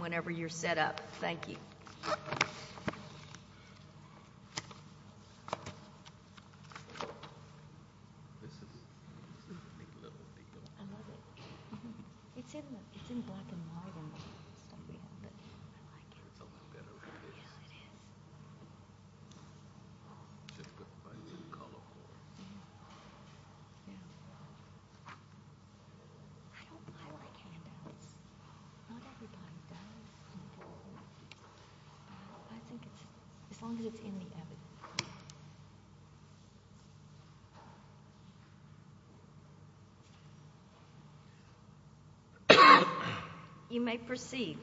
whenever you're set up. Thank you. I think it's, as long as it's in the evidence. You may proceed.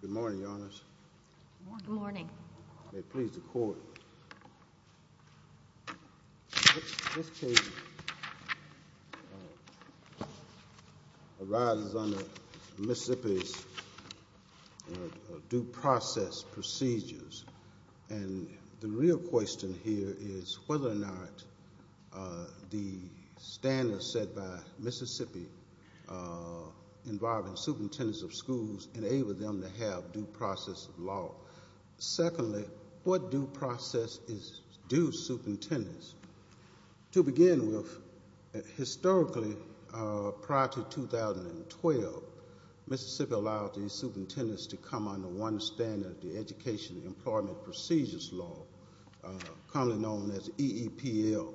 Good morning, your honors. Good morning. May it please the court. This case arises under Mississippi's due process procedures. And the real question here is whether or not the standards set by Mississippi involving superintendents of schools enable them to have due process law. Secondly, what due process is due superintendents? To begin with, historically, prior to 2012, Mississippi allowed the superintendents to come under one standard, the Education Employment Procedures Law, commonly known as EEPL.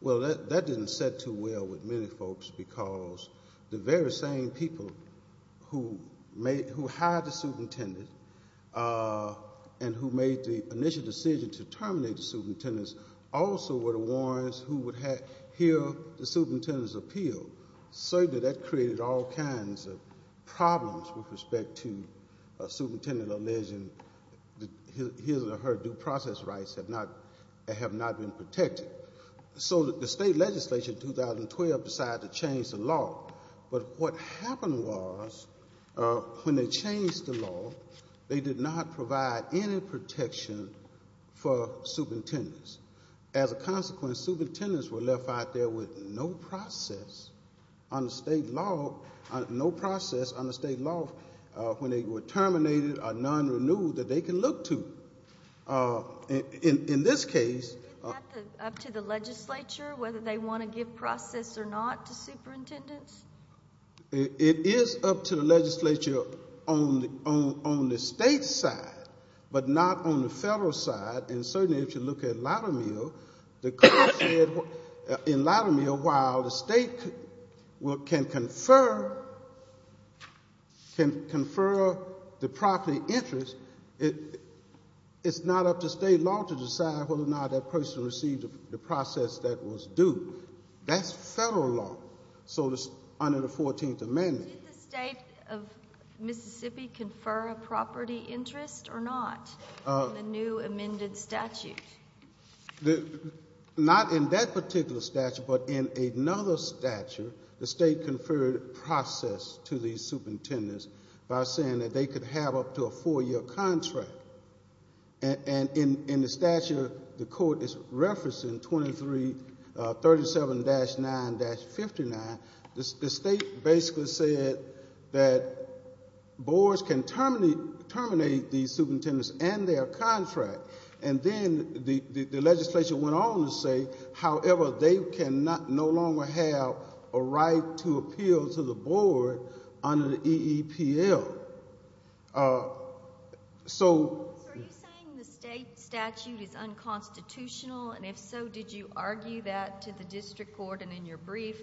Well, that didn't sit too well with many folks because the very same people who hired the superintendent and who made the initial decision to terminate the superintendents also were the ones who would hear the superintendent's appeal. So that created all kinds of problems with respect to a superintendent alleging that his or her due process rights have not been protected. So the state legislature in 2012 decided to change the law. But what happened was when they changed the law, they did not provide any protection for superintendents. As a consequence, superintendents were left out there with no process on the state law when they were terminated or non-renewed that they can look to. In this case- Isn't that up to the legislature whether they want to give process or not to superintendents? It is up to the legislature on the state side, but not on the federal side. And certainly if you look at Latimer, the court said in Latimer, while the state can confer the property interest, it's not up to state law to decide whether or not that person received the process that was due. That's federal law. So it's under the 14th Amendment. Did the state of Mississippi confer a property interest or not in the new amended statute? Not in that particular statute, but in another statute, the state conferred process to these superintendents by saying that they could have up to a four-year contract. And in the statute, the court is referencing 2337-9-59. The state basically said that boards can terminate these superintendents and their contract. And then the legislature went on to say, however, they can no longer have a right to appeal to the board under the EEPL. So are you saying the state statute is unconstitutional? And if so, did you argue that to the district court and in your brief,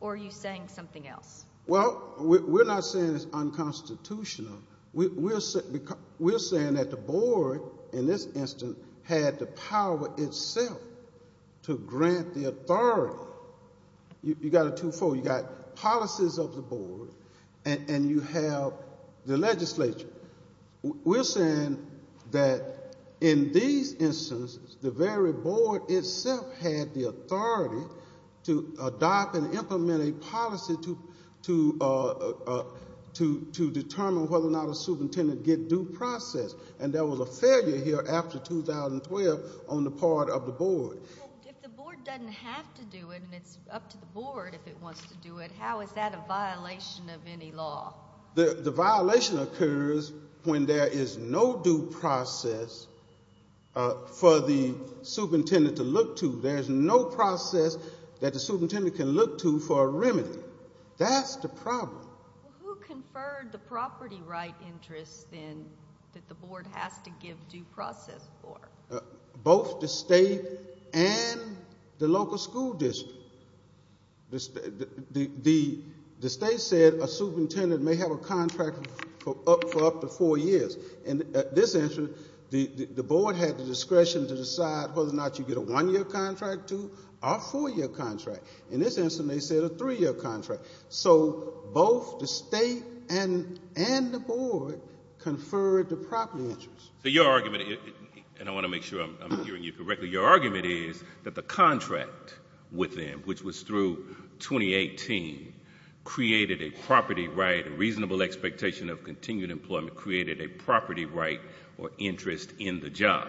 or are you saying something else? Well, we're not saying it's unconstitutional. We're saying that the board, in this instance, had the power itself to grant the authority. You got a 2-4. You got policies of the board, and you have the legislature. We're saying that in these instances, the very board itself had the authority to adopt and implement a policy to determine whether or not a superintendent get due process. And there was a failure here after 2012 on the part of the board. If the board doesn't have to do it and it's up to the board if it wants to do it, how is that a violation of any law? The violation occurs when there is no due process for the superintendent to look to. There is no process that the superintendent can look to for a remedy. That's the problem. Who conferred the property right interest, then, that the board has to give due process for? Both the state and the local school district. The state said a superintendent may have a contract for up to four years. In this instance, the board had the discretion to decide whether or not you get a one-year contract, two- or four-year contract. In this instance, they said a three-year contract. So both the state and the board conferred the property interest. So your argument, and I want to make sure I'm hearing you correctly, your argument is that the contract with them, which was through 2018, created a property right, a reasonable expectation of continued employment, created a property right or interest in the job.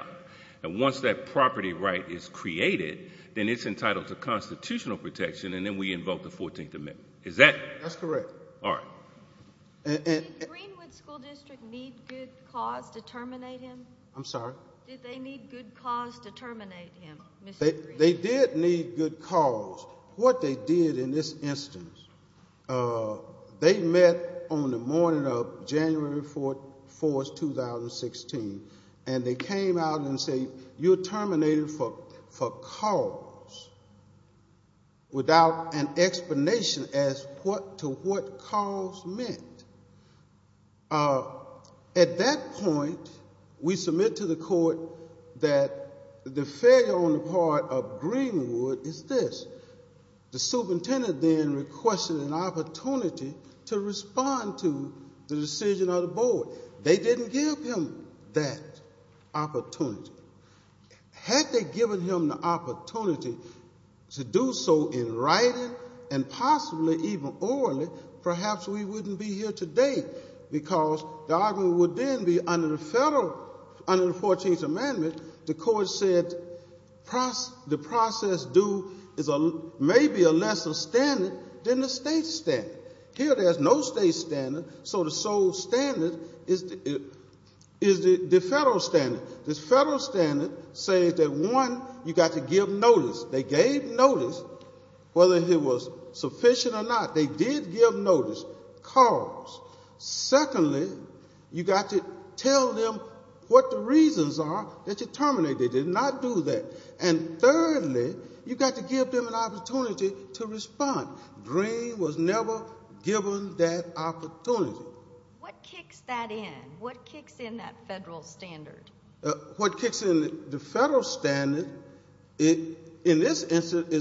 And once that property right is created, then it's entitled to constitutional protection, and then we invoke the 14th Amendment. Is that? That's correct. All right. Did Greenwood School District need good cause to terminate him? I'm sorry? Did they need good cause to terminate him, Mr. Greenwood? They did need good cause. What they did in this instance, they met on the morning of January 4th, 2016, and they came out and said, you're terminated for cause, without an explanation as to what cause meant. At that point, we submit to the court that the failure on the part of Greenwood is this. The superintendent then requested an opportunity to respond to the decision of the board. They didn't give him that opportunity. Had they given him the opportunity to do so in writing and possibly even orally, perhaps we wouldn't be here today, because the argument would then be under the federal, under the 14th Amendment, the court said the process due is maybe a lesser standard than the state standard. Here there's no state standard, so the sole standard is the federal standard. The federal standard says that, one, you've got to give notice. They gave notice, whether it was sufficient or not. They did give notice, cause. Secondly, you've got to tell them what the reasons are that you terminated. They did not do that. And thirdly, you've got to give them an opportunity to respond. Greenwood was never given that opportunity. What kicks that in? What kicks in that federal standard? What kicks in the federal standard in this instance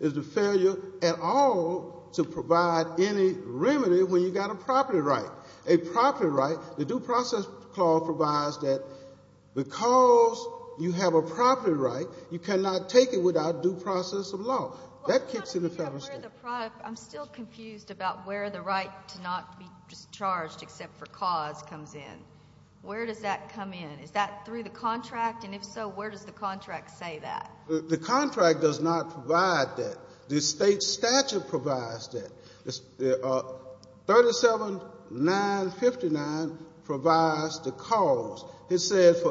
is the failure at all to provide any remedy when you've got a property right. A property right, the Due Process Clause provides that because you have a property right, you cannot take it without due process of law. That kicks in the federal standard. I'm still confused about where the right to not be charged except for cause comes in. Where does that come in? Is that through the contract? And if so, where does the contract say that? The contract does not provide that. The state statute provides that. 37959 provides the cause. It says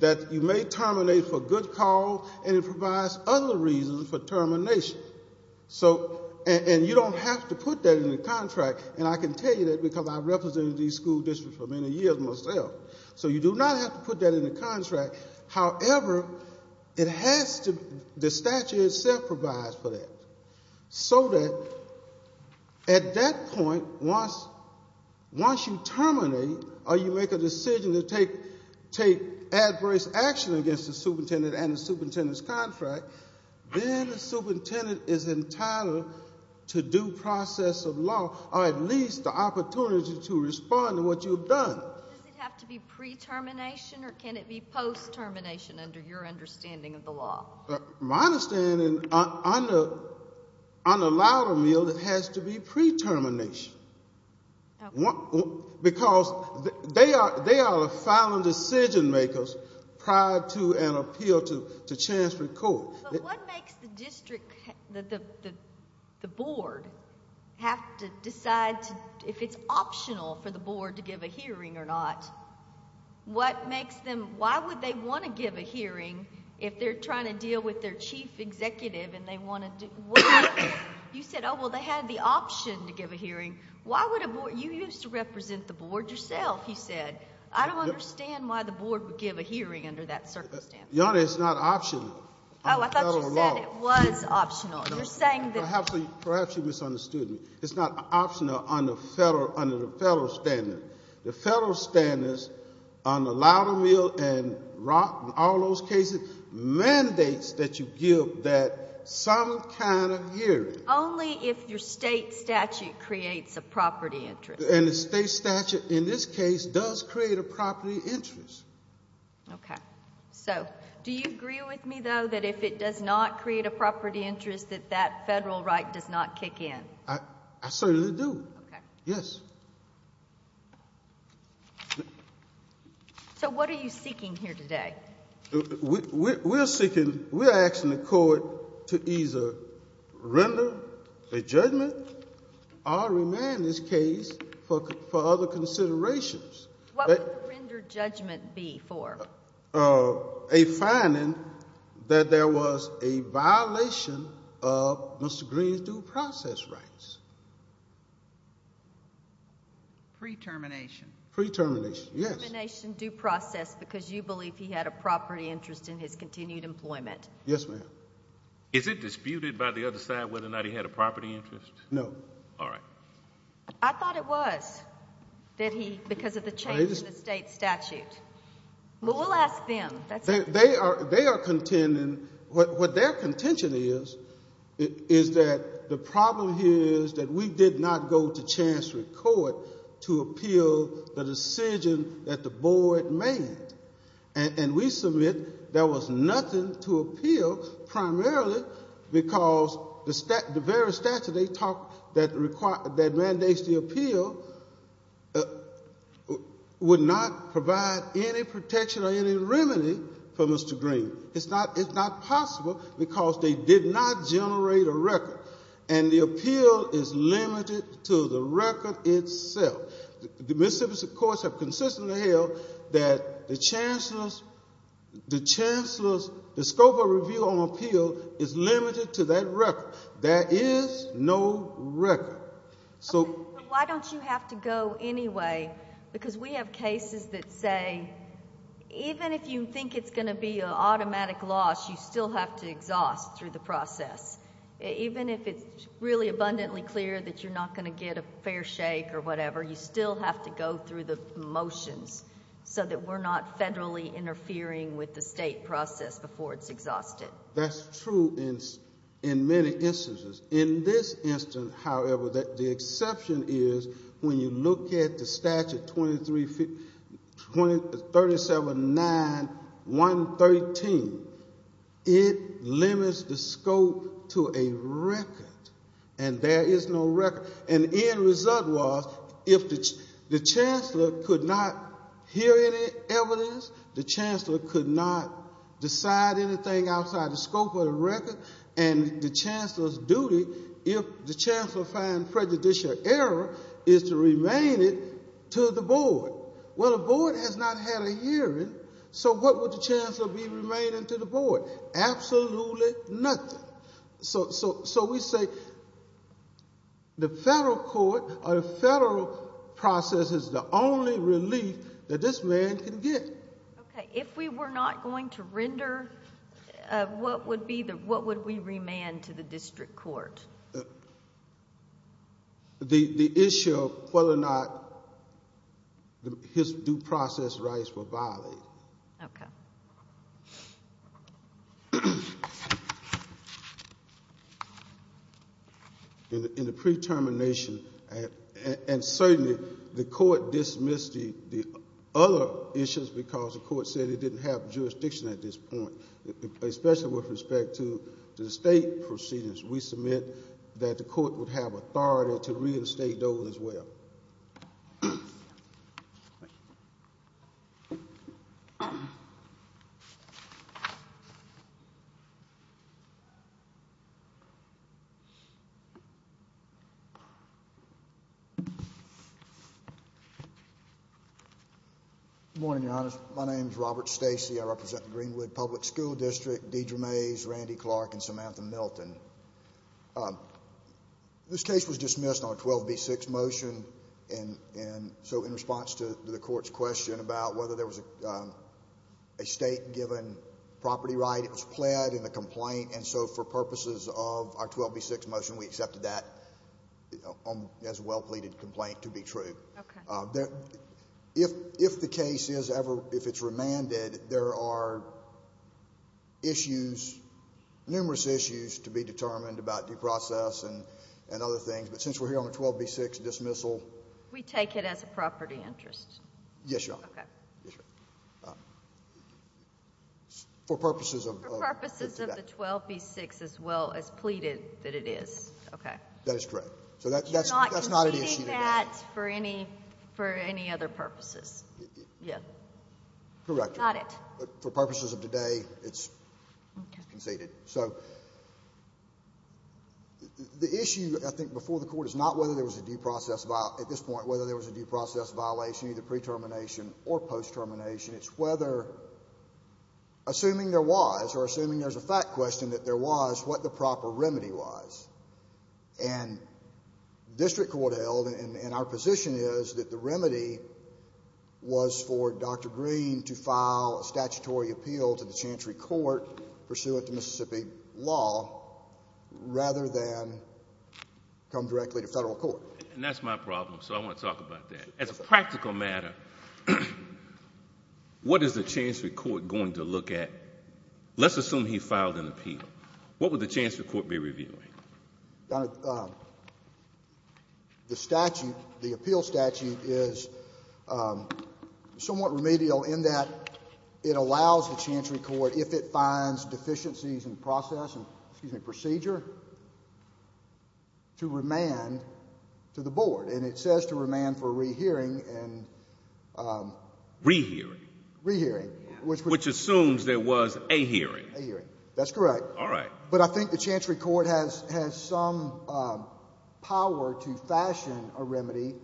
that you may terminate for good cause, and it provides other reasons for termination. And you don't have to put that in the contract. And I can tell you that because I represented these school districts for many years myself. So you do not have to put that in the contract. However, it has to be, the statute itself provides for that. So that at that point, once you terminate or you make a decision to take adverse action against the superintendent and the superintendent's contract, then the superintendent is entitled to due process of law or at least the opportunity to respond to what you've done. Does it have to be pre-termination, or can it be post-termination under your understanding of the law? My understanding, under Loudermill, it has to be pre-termination. Because they are the final decision-makers prior to an appeal to chancellor's court. But what makes the district, the board, have to decide if it's optional for the board to give a hearing or not? What makes them, why would they want to give a hearing if they're trying to deal with their chief executive and they want to, you said, oh, well, they had the option to give a hearing. Why would a board, you used to represent the board yourself, you said. I don't understand why the board would give a hearing under that circumstance. Your Honor, it's not optional. Oh, I thought you said it was optional. You're saying that. Perhaps you misunderstood me. It's not optional under the federal standard. The federal standards under Loudermill and Rock and all those cases mandates that you give that some kind of hearing. Only if your state statute creates a property interest. And the state statute in this case does create a property interest. Okay. So do you agree with me, though, that if it does not create a property interest, that that federal right does not kick in? I certainly do. Okay. Yes. So what are you seeking here today? We're seeking, we're asking the court to either render a judgment or remand this case for other considerations. What would the rendered judgment be for? A finding that there was a violation of Mr. Green's due process rights. Pre-termination. Pre-termination, yes. Pre-termination due process because you believe he had a property interest in his continued employment. Yes, ma'am. Is it disputed by the other side whether or not he had a property interest? No. All right. I thought it was, that he, because of the change in the state statute. But we'll ask them. They are contending, what their contention is, is that the problem here is that we did not go to chancellery court to appeal the decision that the board made. And we submit there was nothing to appeal primarily because the very statute they talked, that mandates the appeal, would not provide any protection or any remedy for Mr. Green. It's not possible because they did not generate a record. And the appeal is limited to the record itself. The Mississippi courts have consistently held that the chancellors, the scope of review on appeal is limited to that record. There is no record. Why don't you have to go anyway? Because we have cases that say even if you think it's going to be an automatic loss, you still have to exhaust through the process. Even if it's really abundantly clear that you're not going to get a fair shake or whatever, you still have to go through the motions so that we're not federally interfering with the state process before it's exhausted. That's true in many instances. In this instance, however, the exception is when you look at the statute 237-9-113. It limits the scope to a record. And there is no record. And the end result was if the chancellor could not hear any evidence, the chancellor could not decide anything outside the scope of the record, and the chancellor's duty, if the chancellor finds prejudicial error, is to remain it to the board. Well, the board has not had a hearing, so what would the chancellor be remaining to the board? Absolutely nothing. So we say the federal court or the federal process is the only relief that this man can get. Okay. If we were not going to render, what would we remand to the district court? The issue of whether or not his due process rights were violated. Okay. In the pre-termination, and certainly the court dismissed the other issues because the court said it didn't have jurisdiction at this point, especially with respect to the state proceedings, we submit that the court would have authority to reinstate those as well. Thank you. Good morning, Your Honor. My name is Robert Stacy. I represent the Greenwood Public School District, Deidre Mays, Randy Clark, and Samantha Milton. This case was dismissed on a 12B6 motion, and so in response to the court's question about whether there was a state-given property right, it was pled in the complaint, and so for purposes of our 12B6 motion, we accepted that as a well-pleaded complaint to be true. Okay. If the case is ever, if it's remanded, there are issues, numerous issues to be determined about due process and other things, but since we're here on a 12B6 dismissal... We take it as a property interest. Yes, Your Honor. Okay. For purposes of... For purposes of the 12B6 as well as pleaded that it is. Okay. That is correct. So that's not an issue today. You're not conceding that for any other purposes? Yeah. Correct. Got it. But for purposes of today, it's conceded. Okay. So the issue, I think, before the court is not whether there was a due process, at this point, whether there was a due process violation, either pre-termination or post-termination. It's whether, assuming there was, or assuming there's a fact question that there was, what the proper remedy was. And district court held, and our position is that the remedy was for Dr. Green to file a statutory appeal to the Chancery Court, pursuant to Mississippi law, rather than come directly to federal court. And that's my problem, so I want to talk about that. As a practical matter, what is the Chancery Court going to look at? Let's assume he filed an appeal. What would the Chancery Court be reviewing? The statute, the appeal statute, is somewhat remedial in that it allows the Chancery Court, if it finds deficiencies in process and procedure, to remand to the board. And it says to remand for rehearing and ‑‑ Rehearing. Rehearing. Which assumes there was a hearing. A hearing. That's correct. All right. But I think the Chancery Court has some power to fashion a remedy,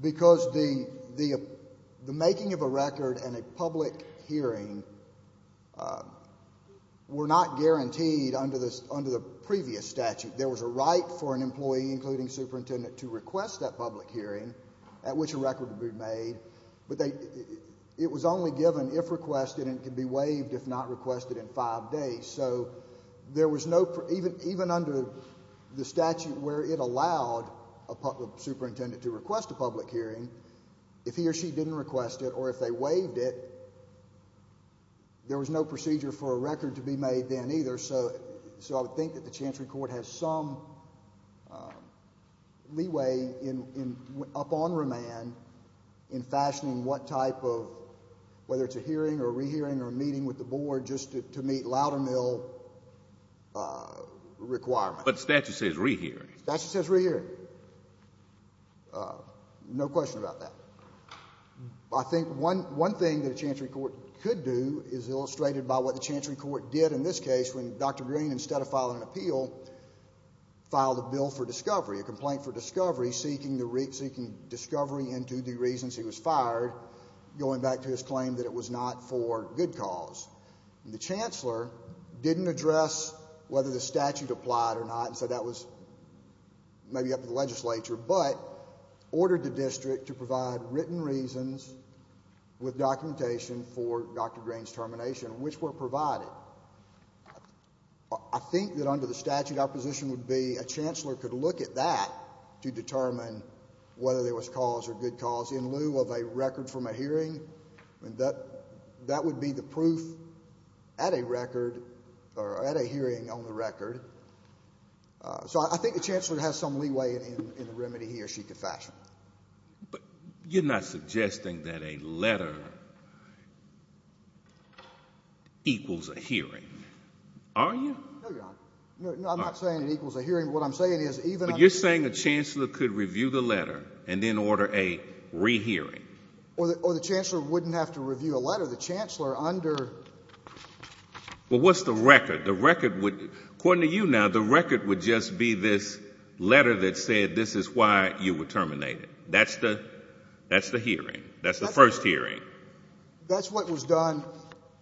because the making of a record and a public hearing were not guaranteed under the previous statute. There was a right for an employee, including superintendent, to request that public hearing at which a record would be made. But it was only given if requested, and it could be waived if not requested in five days. So there was no ‑‑ even under the statute where it allowed a superintendent to request a public hearing, if he or she didn't request it or if they waived it, there was no procedure for a record to be made then either. So I would think that the Chancery Court has some leeway up on remand in fashioning what type of, whether it's a hearing or a rehearing or a meeting with the board, just to meet Loudermill requirements. But the statute says rehearing. The statute says rehearing. No question about that. I think one thing that a Chancery Court could do is illustrated by what the Chancery Court did in this case when Dr. Green, instead of filing an appeal, filed a bill for discovery, a complaint for discovery, seeking discovery into the reasons he was fired, going back to his claim that it was not for good cause. The chancellor didn't address whether the statute applied or not, and said that was maybe up to the legislature, but ordered the district to provide written reasons with documentation for Dr. Green's termination, which were provided. I think that under the statute our position would be a chancellor could look at that to determine whether there was cause or good cause in lieu of a record from a hearing, and that would be the proof at a record or at a hearing on the record. So I think the chancellor has some leeway in the remedy he or she could fashion. But you're not suggesting that a letter equals a hearing, are you? No, Your Honor. No, I'm not saying it equals a hearing. What I'm saying is even under the statute. But you're saying a chancellor could review the letter and then order a rehearing. Or the chancellor wouldn't have to review a letter. The chancellor under... Well, what's the record? The record would, according to you now, the record would just be this letter that said this is why you were terminated. That's the hearing. That's the first hearing. That's what was done.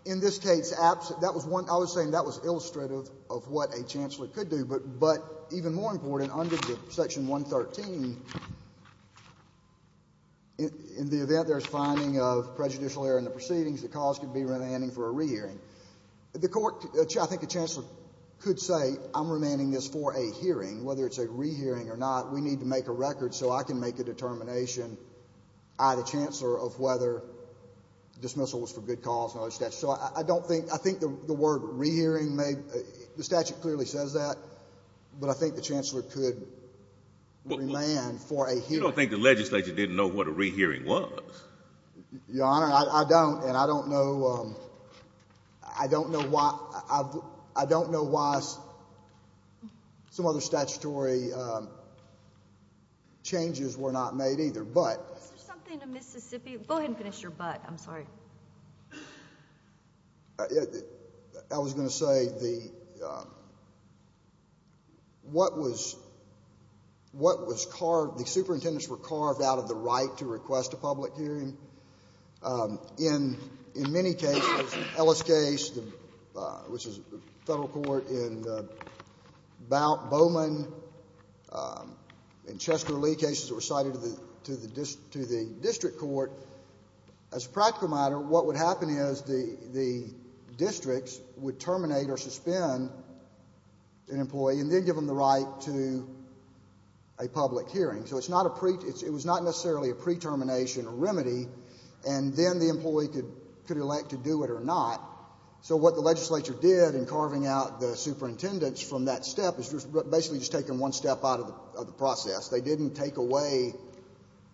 In this case, that was one... I was saying that was illustrative of what a chancellor could do. But even more important, under Section 113, in the event there's finding of prejudicial error in the proceedings, the cause could be remanding for a rehearing. I think a chancellor could say I'm remanding this for a hearing, whether it's a rehearing or not. We need to make a record so I can make a determination, I, the chancellor, of whether dismissal was for good cause. So I think the word rehearing, the statute clearly says that. But I think the chancellor could remand for a hearing. You don't think the legislature didn't know what a rehearing was. Your Honor, I don't. And I don't know... I don't know why... I don't know why some other statutory changes were not made either. But... Is there something to Mississippi? Go ahead and finish your but. I'm sorry. I was going to say the... The superintendents were carved out of the right to request a public hearing. In many cases, Ellis case, which is federal court, in Bowman, in Chester Lee cases that were cited to the district court, as a practical matter, what would happen is the districts would terminate or suspend an employee and then give them the right to a public hearing. So it's not a pre... It was not necessarily a pre-termination remedy. And then the employee could elect to do it or not. So what the legislature did in carving out the superintendents from that step is basically just taking one step out of the process. They didn't take away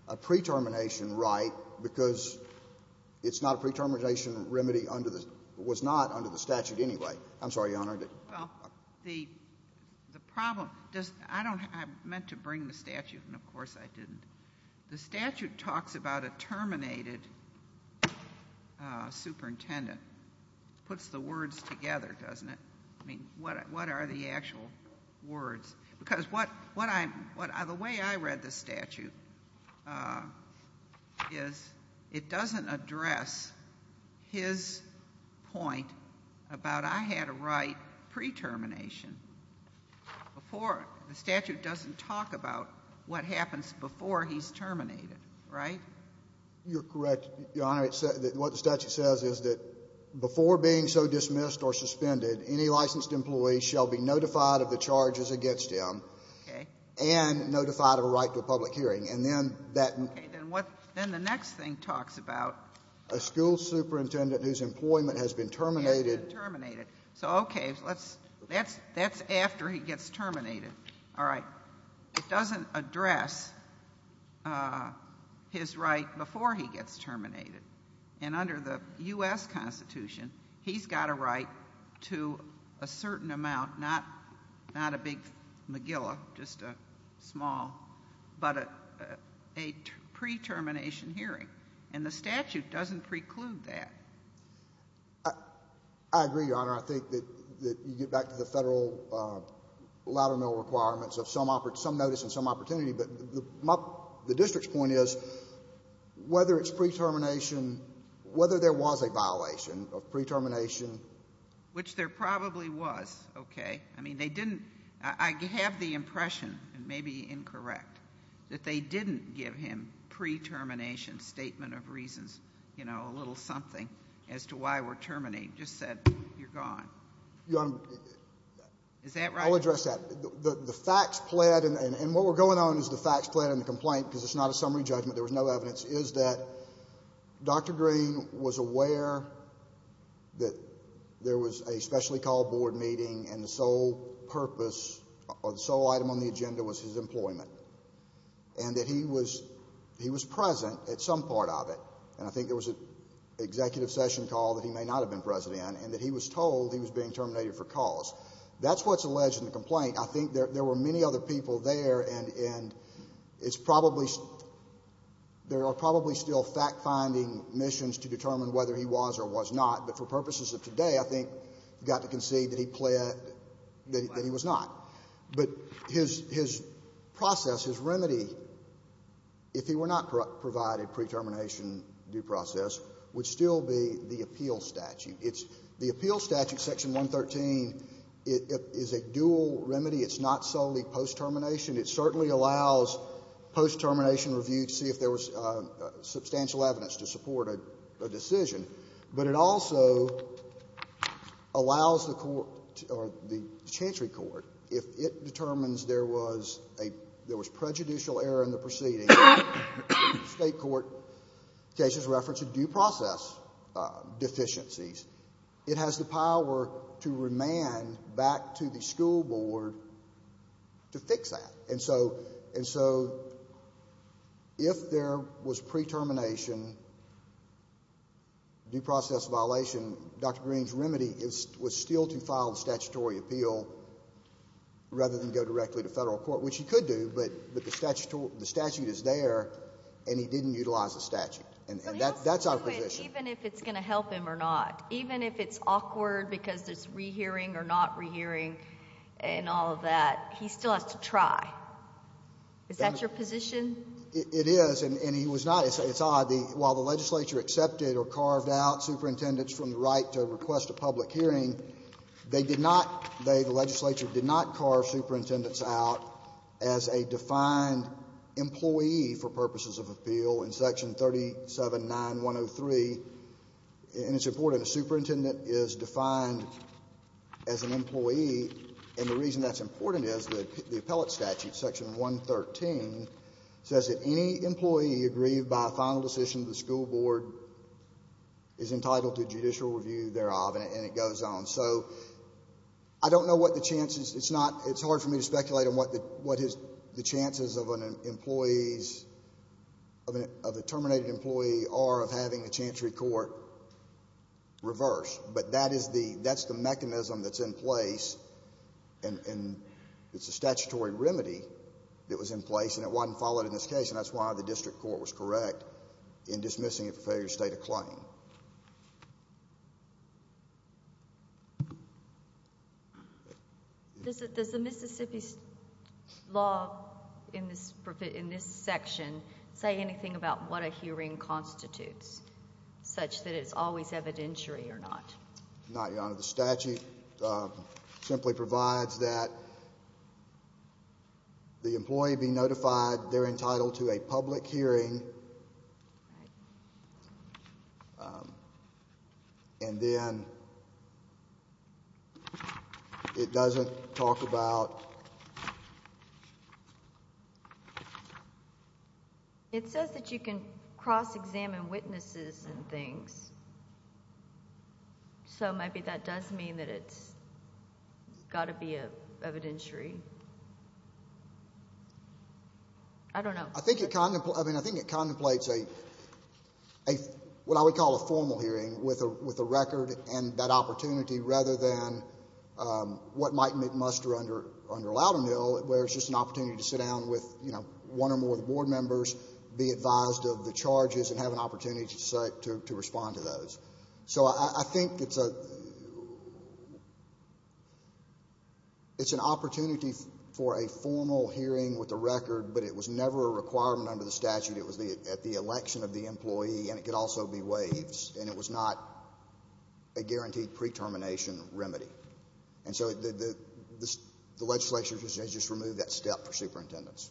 a pre-termination right because it's not a pre-termination remedy under the... It was not under the statute anyway. I'm sorry, Your Honor. Well, the problem... I meant to bring the statute, and of course I didn't. The statute talks about a terminated superintendent. Puts the words together, doesn't it? I mean, what are the actual words? Because what I'm... The way I read the statute is it doesn't address his point about I had a right pre-termination before... The statute doesn't talk about what happens before he's terminated, right? You're correct, Your Honor. What the statute says is that before being so dismissed or suspended, any licensed employee shall be notified of the charges against him. Okay. And notified of a right to a public hearing. And then that... Okay, then what... Then the next thing talks about... A school superintendent whose employment has been terminated. Has been terminated. So, okay. That's after he gets terminated. All right. It doesn't address his right before he gets terminated. And under the U.S. Constitution, he's got a right to a certain amount, not a big mcgilla, just a small, but a pre-termination hearing. And the statute doesn't preclude that. I agree, Your Honor. I think that you get back to the federal ladder mill requirements of some notice and some opportunity. But the district's point is, whether it's pre-termination, whether there was a violation of pre-termination... Which there probably was. Okay. I mean, they didn't... I have the impression, and maybe incorrect, that they didn't give him pre-termination statement of reasons, you know, a little something as to why we're terminating. Just said, you're gone. Your Honor... Is that right? I'll address that. The facts plead, and what we're going on is the facts plead and the complaint, because it's not a summary judgment. There was no evidence. Is that Dr. Green was aware that there was a specially called board meeting and the sole purpose or the sole item on the agenda was his employment. And that he was present at some part of it. And I think there was an executive session call that he may not have been present in, and that he was told he was being terminated for cause. That's what's alleged in the complaint. I think there were many other people there, and it's probably, there are probably still fact-finding missions to determine whether he was or was not. But for purposes of today, I think you've got to concede that he pled, that he was not. But his process, his remedy, if he were not provided pre-termination due process, would still be the appeal statute. The appeal statute, Section 113, is a dual remedy. It's not solely post-termination. It certainly allows post-termination review to see if there was substantial evidence to support a decision. But it also allows the court, or the Chantry court, if it determines there was a, there was prejudicial error in the proceeding. State court cases reference due process deficiencies. It has the power to remand back to the school board to fix that. And so, if there was pre-termination due process violation, Dr. Green's remedy was still to file the statutory appeal rather than go directly to federal court, which he could do, but the statute is there, and he didn't utilize the statute. And that's our position. But he'll still do it even if it's going to help him or not. Even if it's awkward because there's rehearing or not rehearing and all of that, he still has to try. Is that your position? It is, and he was not. It's odd. While the legislature accepted or carved out superintendents from the right to request a public hearing, they did not, the legislature did not carve superintendents out as a defined employee for purposes of appeal in Section 379103. And it's important. A superintendent is defined as an employee, and the reason that's important is that the appellate statute, Section 113, says that any employee aggrieved by a final decision of the school board is entitled to judicial review thereof, and it goes on. So, I don't know what the chances, it's not, it's hard for me to speculate on what the chances of an employee's, of a terminated employee are of having a chancery court reverse. But that is the, that's the mechanism that's in place, and it's a statutory remedy that was in place, and it wasn't followed in this case, and that's why the district court was correct in dismissing it for failure to state a claim. Does the Mississippi's law in this section say anything about what a hearing constitutes, such that it's always evidentiary or not? No, Your Honor, the statute simply provides that the employee be notified they're entitled to a public hearing, and then it doesn't talk about... It says that you can cross-examine witnesses and things, so maybe that does mean that it's got to be evidentiary. I don't know. I think it, I mean, I think it contemplates a, what I would call a formal hearing with a record and that opportunity, rather than what might muster under Loudermill, where it's just an opportunity to sit down with, you know, one or more of the board members, be advised of the charges, and have an opportunity to respond to those. So, I think it's a, it's an opportunity for a formal hearing with a record, but it was never a requirement under the statute. It was at the election of the employee, and it could also be waived, and it was not a guaranteed pre-termination remedy. And so, the legislature has just removed that step for superintendents.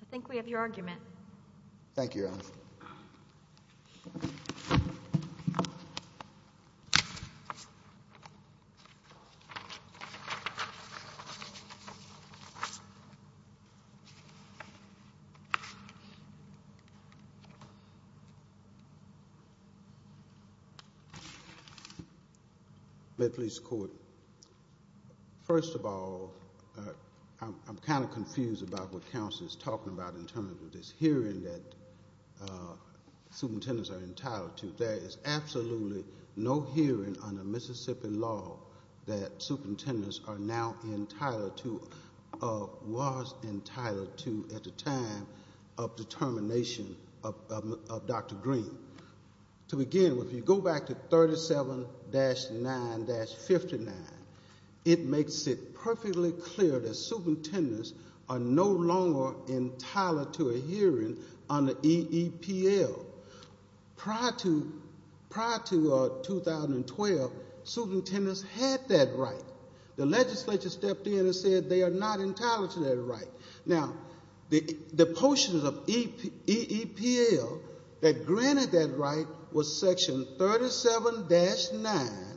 I think we have your argument. Thank you, Your Honor. May it please the Court. First of all, I'm kind of confused about what counsel is talking about in terms of this hearing that superintendents are entitled to. There is absolutely no hearing under Mississippi law that superintendents are now entitled to, or was entitled to at the time of the termination of Dr. Green. To begin with, if you go back to 37-9-59, it makes it perfectly clear that superintendents are no longer entitled to a hearing under EEPL. Prior to 2012, superintendents had that right. The legislature stepped in and said they are not entitled to that right. Now, the portion of EEPL that granted that right was section 37-9-109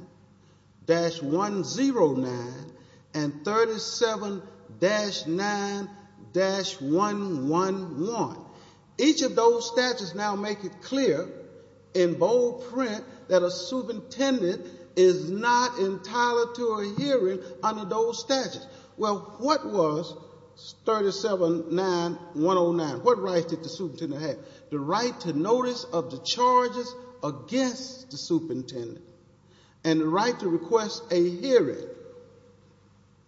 and 37-9-111. Each of those statutes now make it clear in bold print that a superintendent is not entitled to a hearing under those statutes. Well, what was 37-9-109? What right did the superintendent have? The right to notice of the charges against the superintendent and the right to request a hearing.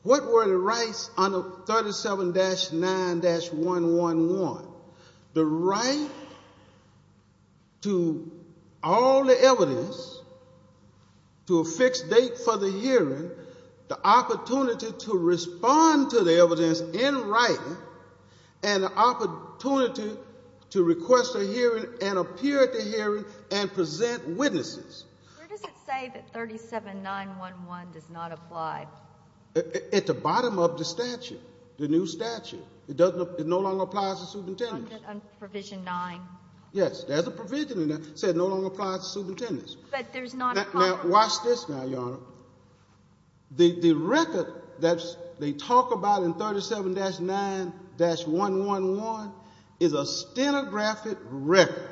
What were the rights under 37-9-111? The right to all the evidence, to a fixed date for the hearing, the opportunity to respond to the evidence in writing, and the opportunity to request a hearing and appear at the hearing and present witnesses. Where does it say that 37-9-11 does not apply? At the bottom of the statute, the new statute. It no longer applies to superintendents. Under provision 9. Yes, there's a provision in there that says it no longer applies to superintendents. But there's not a problem. Now, watch this now, Your Honor. The record that they talk about in 37-9-111 is a stenographic record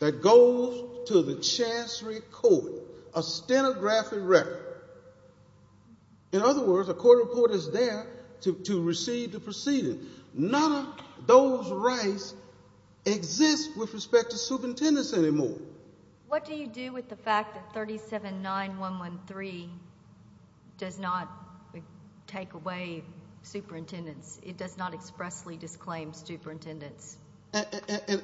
that goes to the chancery court. A stenographic record. In other words, a court reporter is there to receive the proceeding. None of those rights exist with respect to superintendents anymore. What do you do with the fact that 37-9-113 does not take away superintendents? It does not expressly disclaim superintendents. And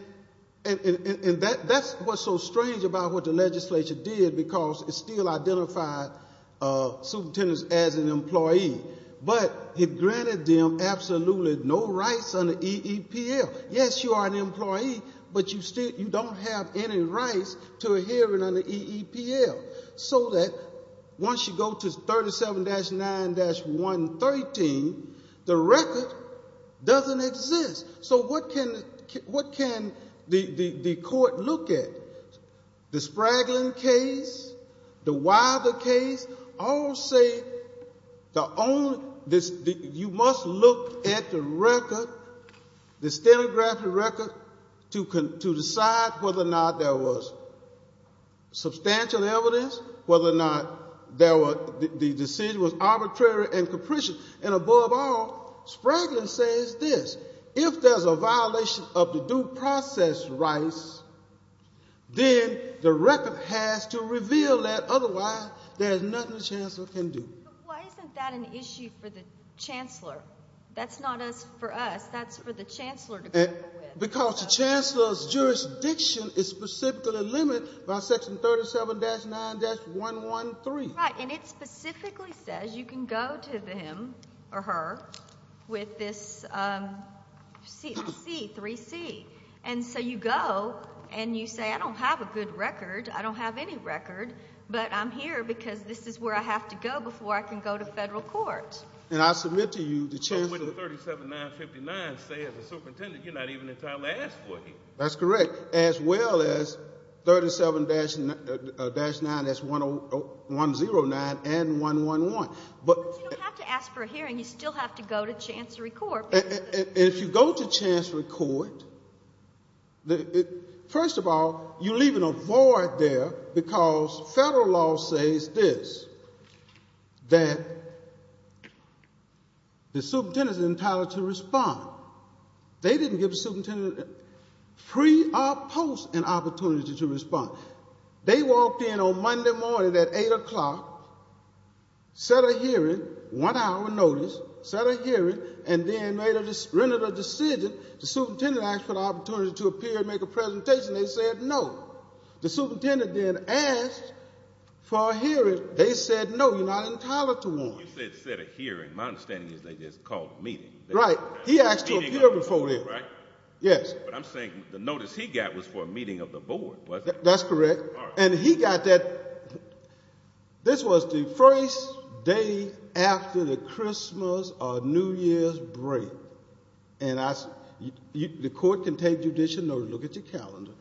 that's what's so strange about what the legislature did because it still identified superintendents as an employee. But it granted them absolutely no rights under EEPL. Yes, you are an employee, but you don't have any rights to a hearing under EEPL. So that once you go to 37-9-113, the record doesn't exist. So what can the court look at? The Spraglin case, the Wyther case, all say you must look at the record, the stenographic record, to decide whether or not there was substantial evidence, whether or not the decision was arbitrary and capricious. And above all, Spraglin says this. If there's a violation of the due process rights, then the record has to reveal that. Otherwise, there's nothing the chancellor can do. But why isn't that an issue for the chancellor? That's not for us. That's for the chancellor to grapple with. Because the chancellor's jurisdiction is specifically limited by section 37-9-113. Right, and it specifically says you can go to them or her with this C3C. And so you go and you say, I don't have a good record, I don't have any record, but I'm here because this is where I have to go before I can go to federal court. And I submit to you the chancellor. But wouldn't 37-9-59 say as a superintendent you're not even entitled to ask for it? That's correct, as well as 37-9-109 and 111. But you don't have to ask for a hearing. You still have to go to chancellery court. If you go to chancellery court, first of all, you're leaving a void there because federal law says this, that the superintendent is entitled to respond. They didn't give the superintendent pre or post an opportunity to respond. They walked in on Monday morning at 8 o'clock, set a hearing, one-hour notice, set a hearing, and then rendered a decision, the superintendent asked for the opportunity to appear and make a presentation. They said no. The superintendent then asked for a hearing. They said no, you're not entitled to one. You said set a hearing. My understanding is they just called a meeting. Right. He asked to appear before them. Right? Yes. But I'm saying the notice he got was for a meeting of the board, wasn't it? That's correct. All right. And he got that. This was the first day after the Christmas or New Year's break. And the court can take judicial notice. Look at your calendar.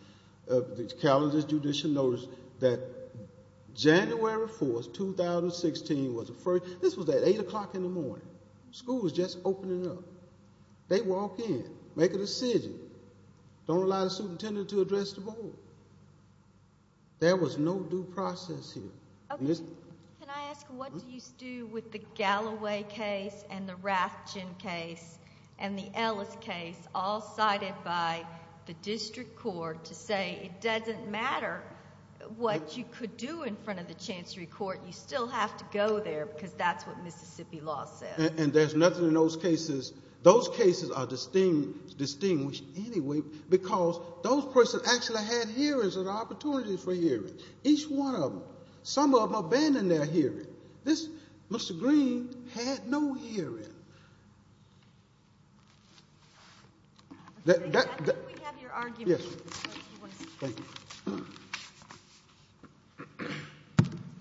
The calendar is judicial notice that January 4th, 2016 was the first. This was at 8 o'clock in the morning. School was just opening up. They walk in, make a decision, don't allow the superintendent to address the board. There was no due process here. Okay. Can I ask what do you do with the Galloway case and the Rathjen case and the Ellis case, all cited by the district court to say it doesn't matter what you could do in front of the chancery court, you still have to go there because that's what Mississippi law says. And there's nothing in those cases. Those cases are distinguished anyway because those persons actually had hearings and opportunities for hearing. Each one of them. Some of them abandoned their hearing. Mr. Green had no hearing. I think we have your argument. Yes. Thank you.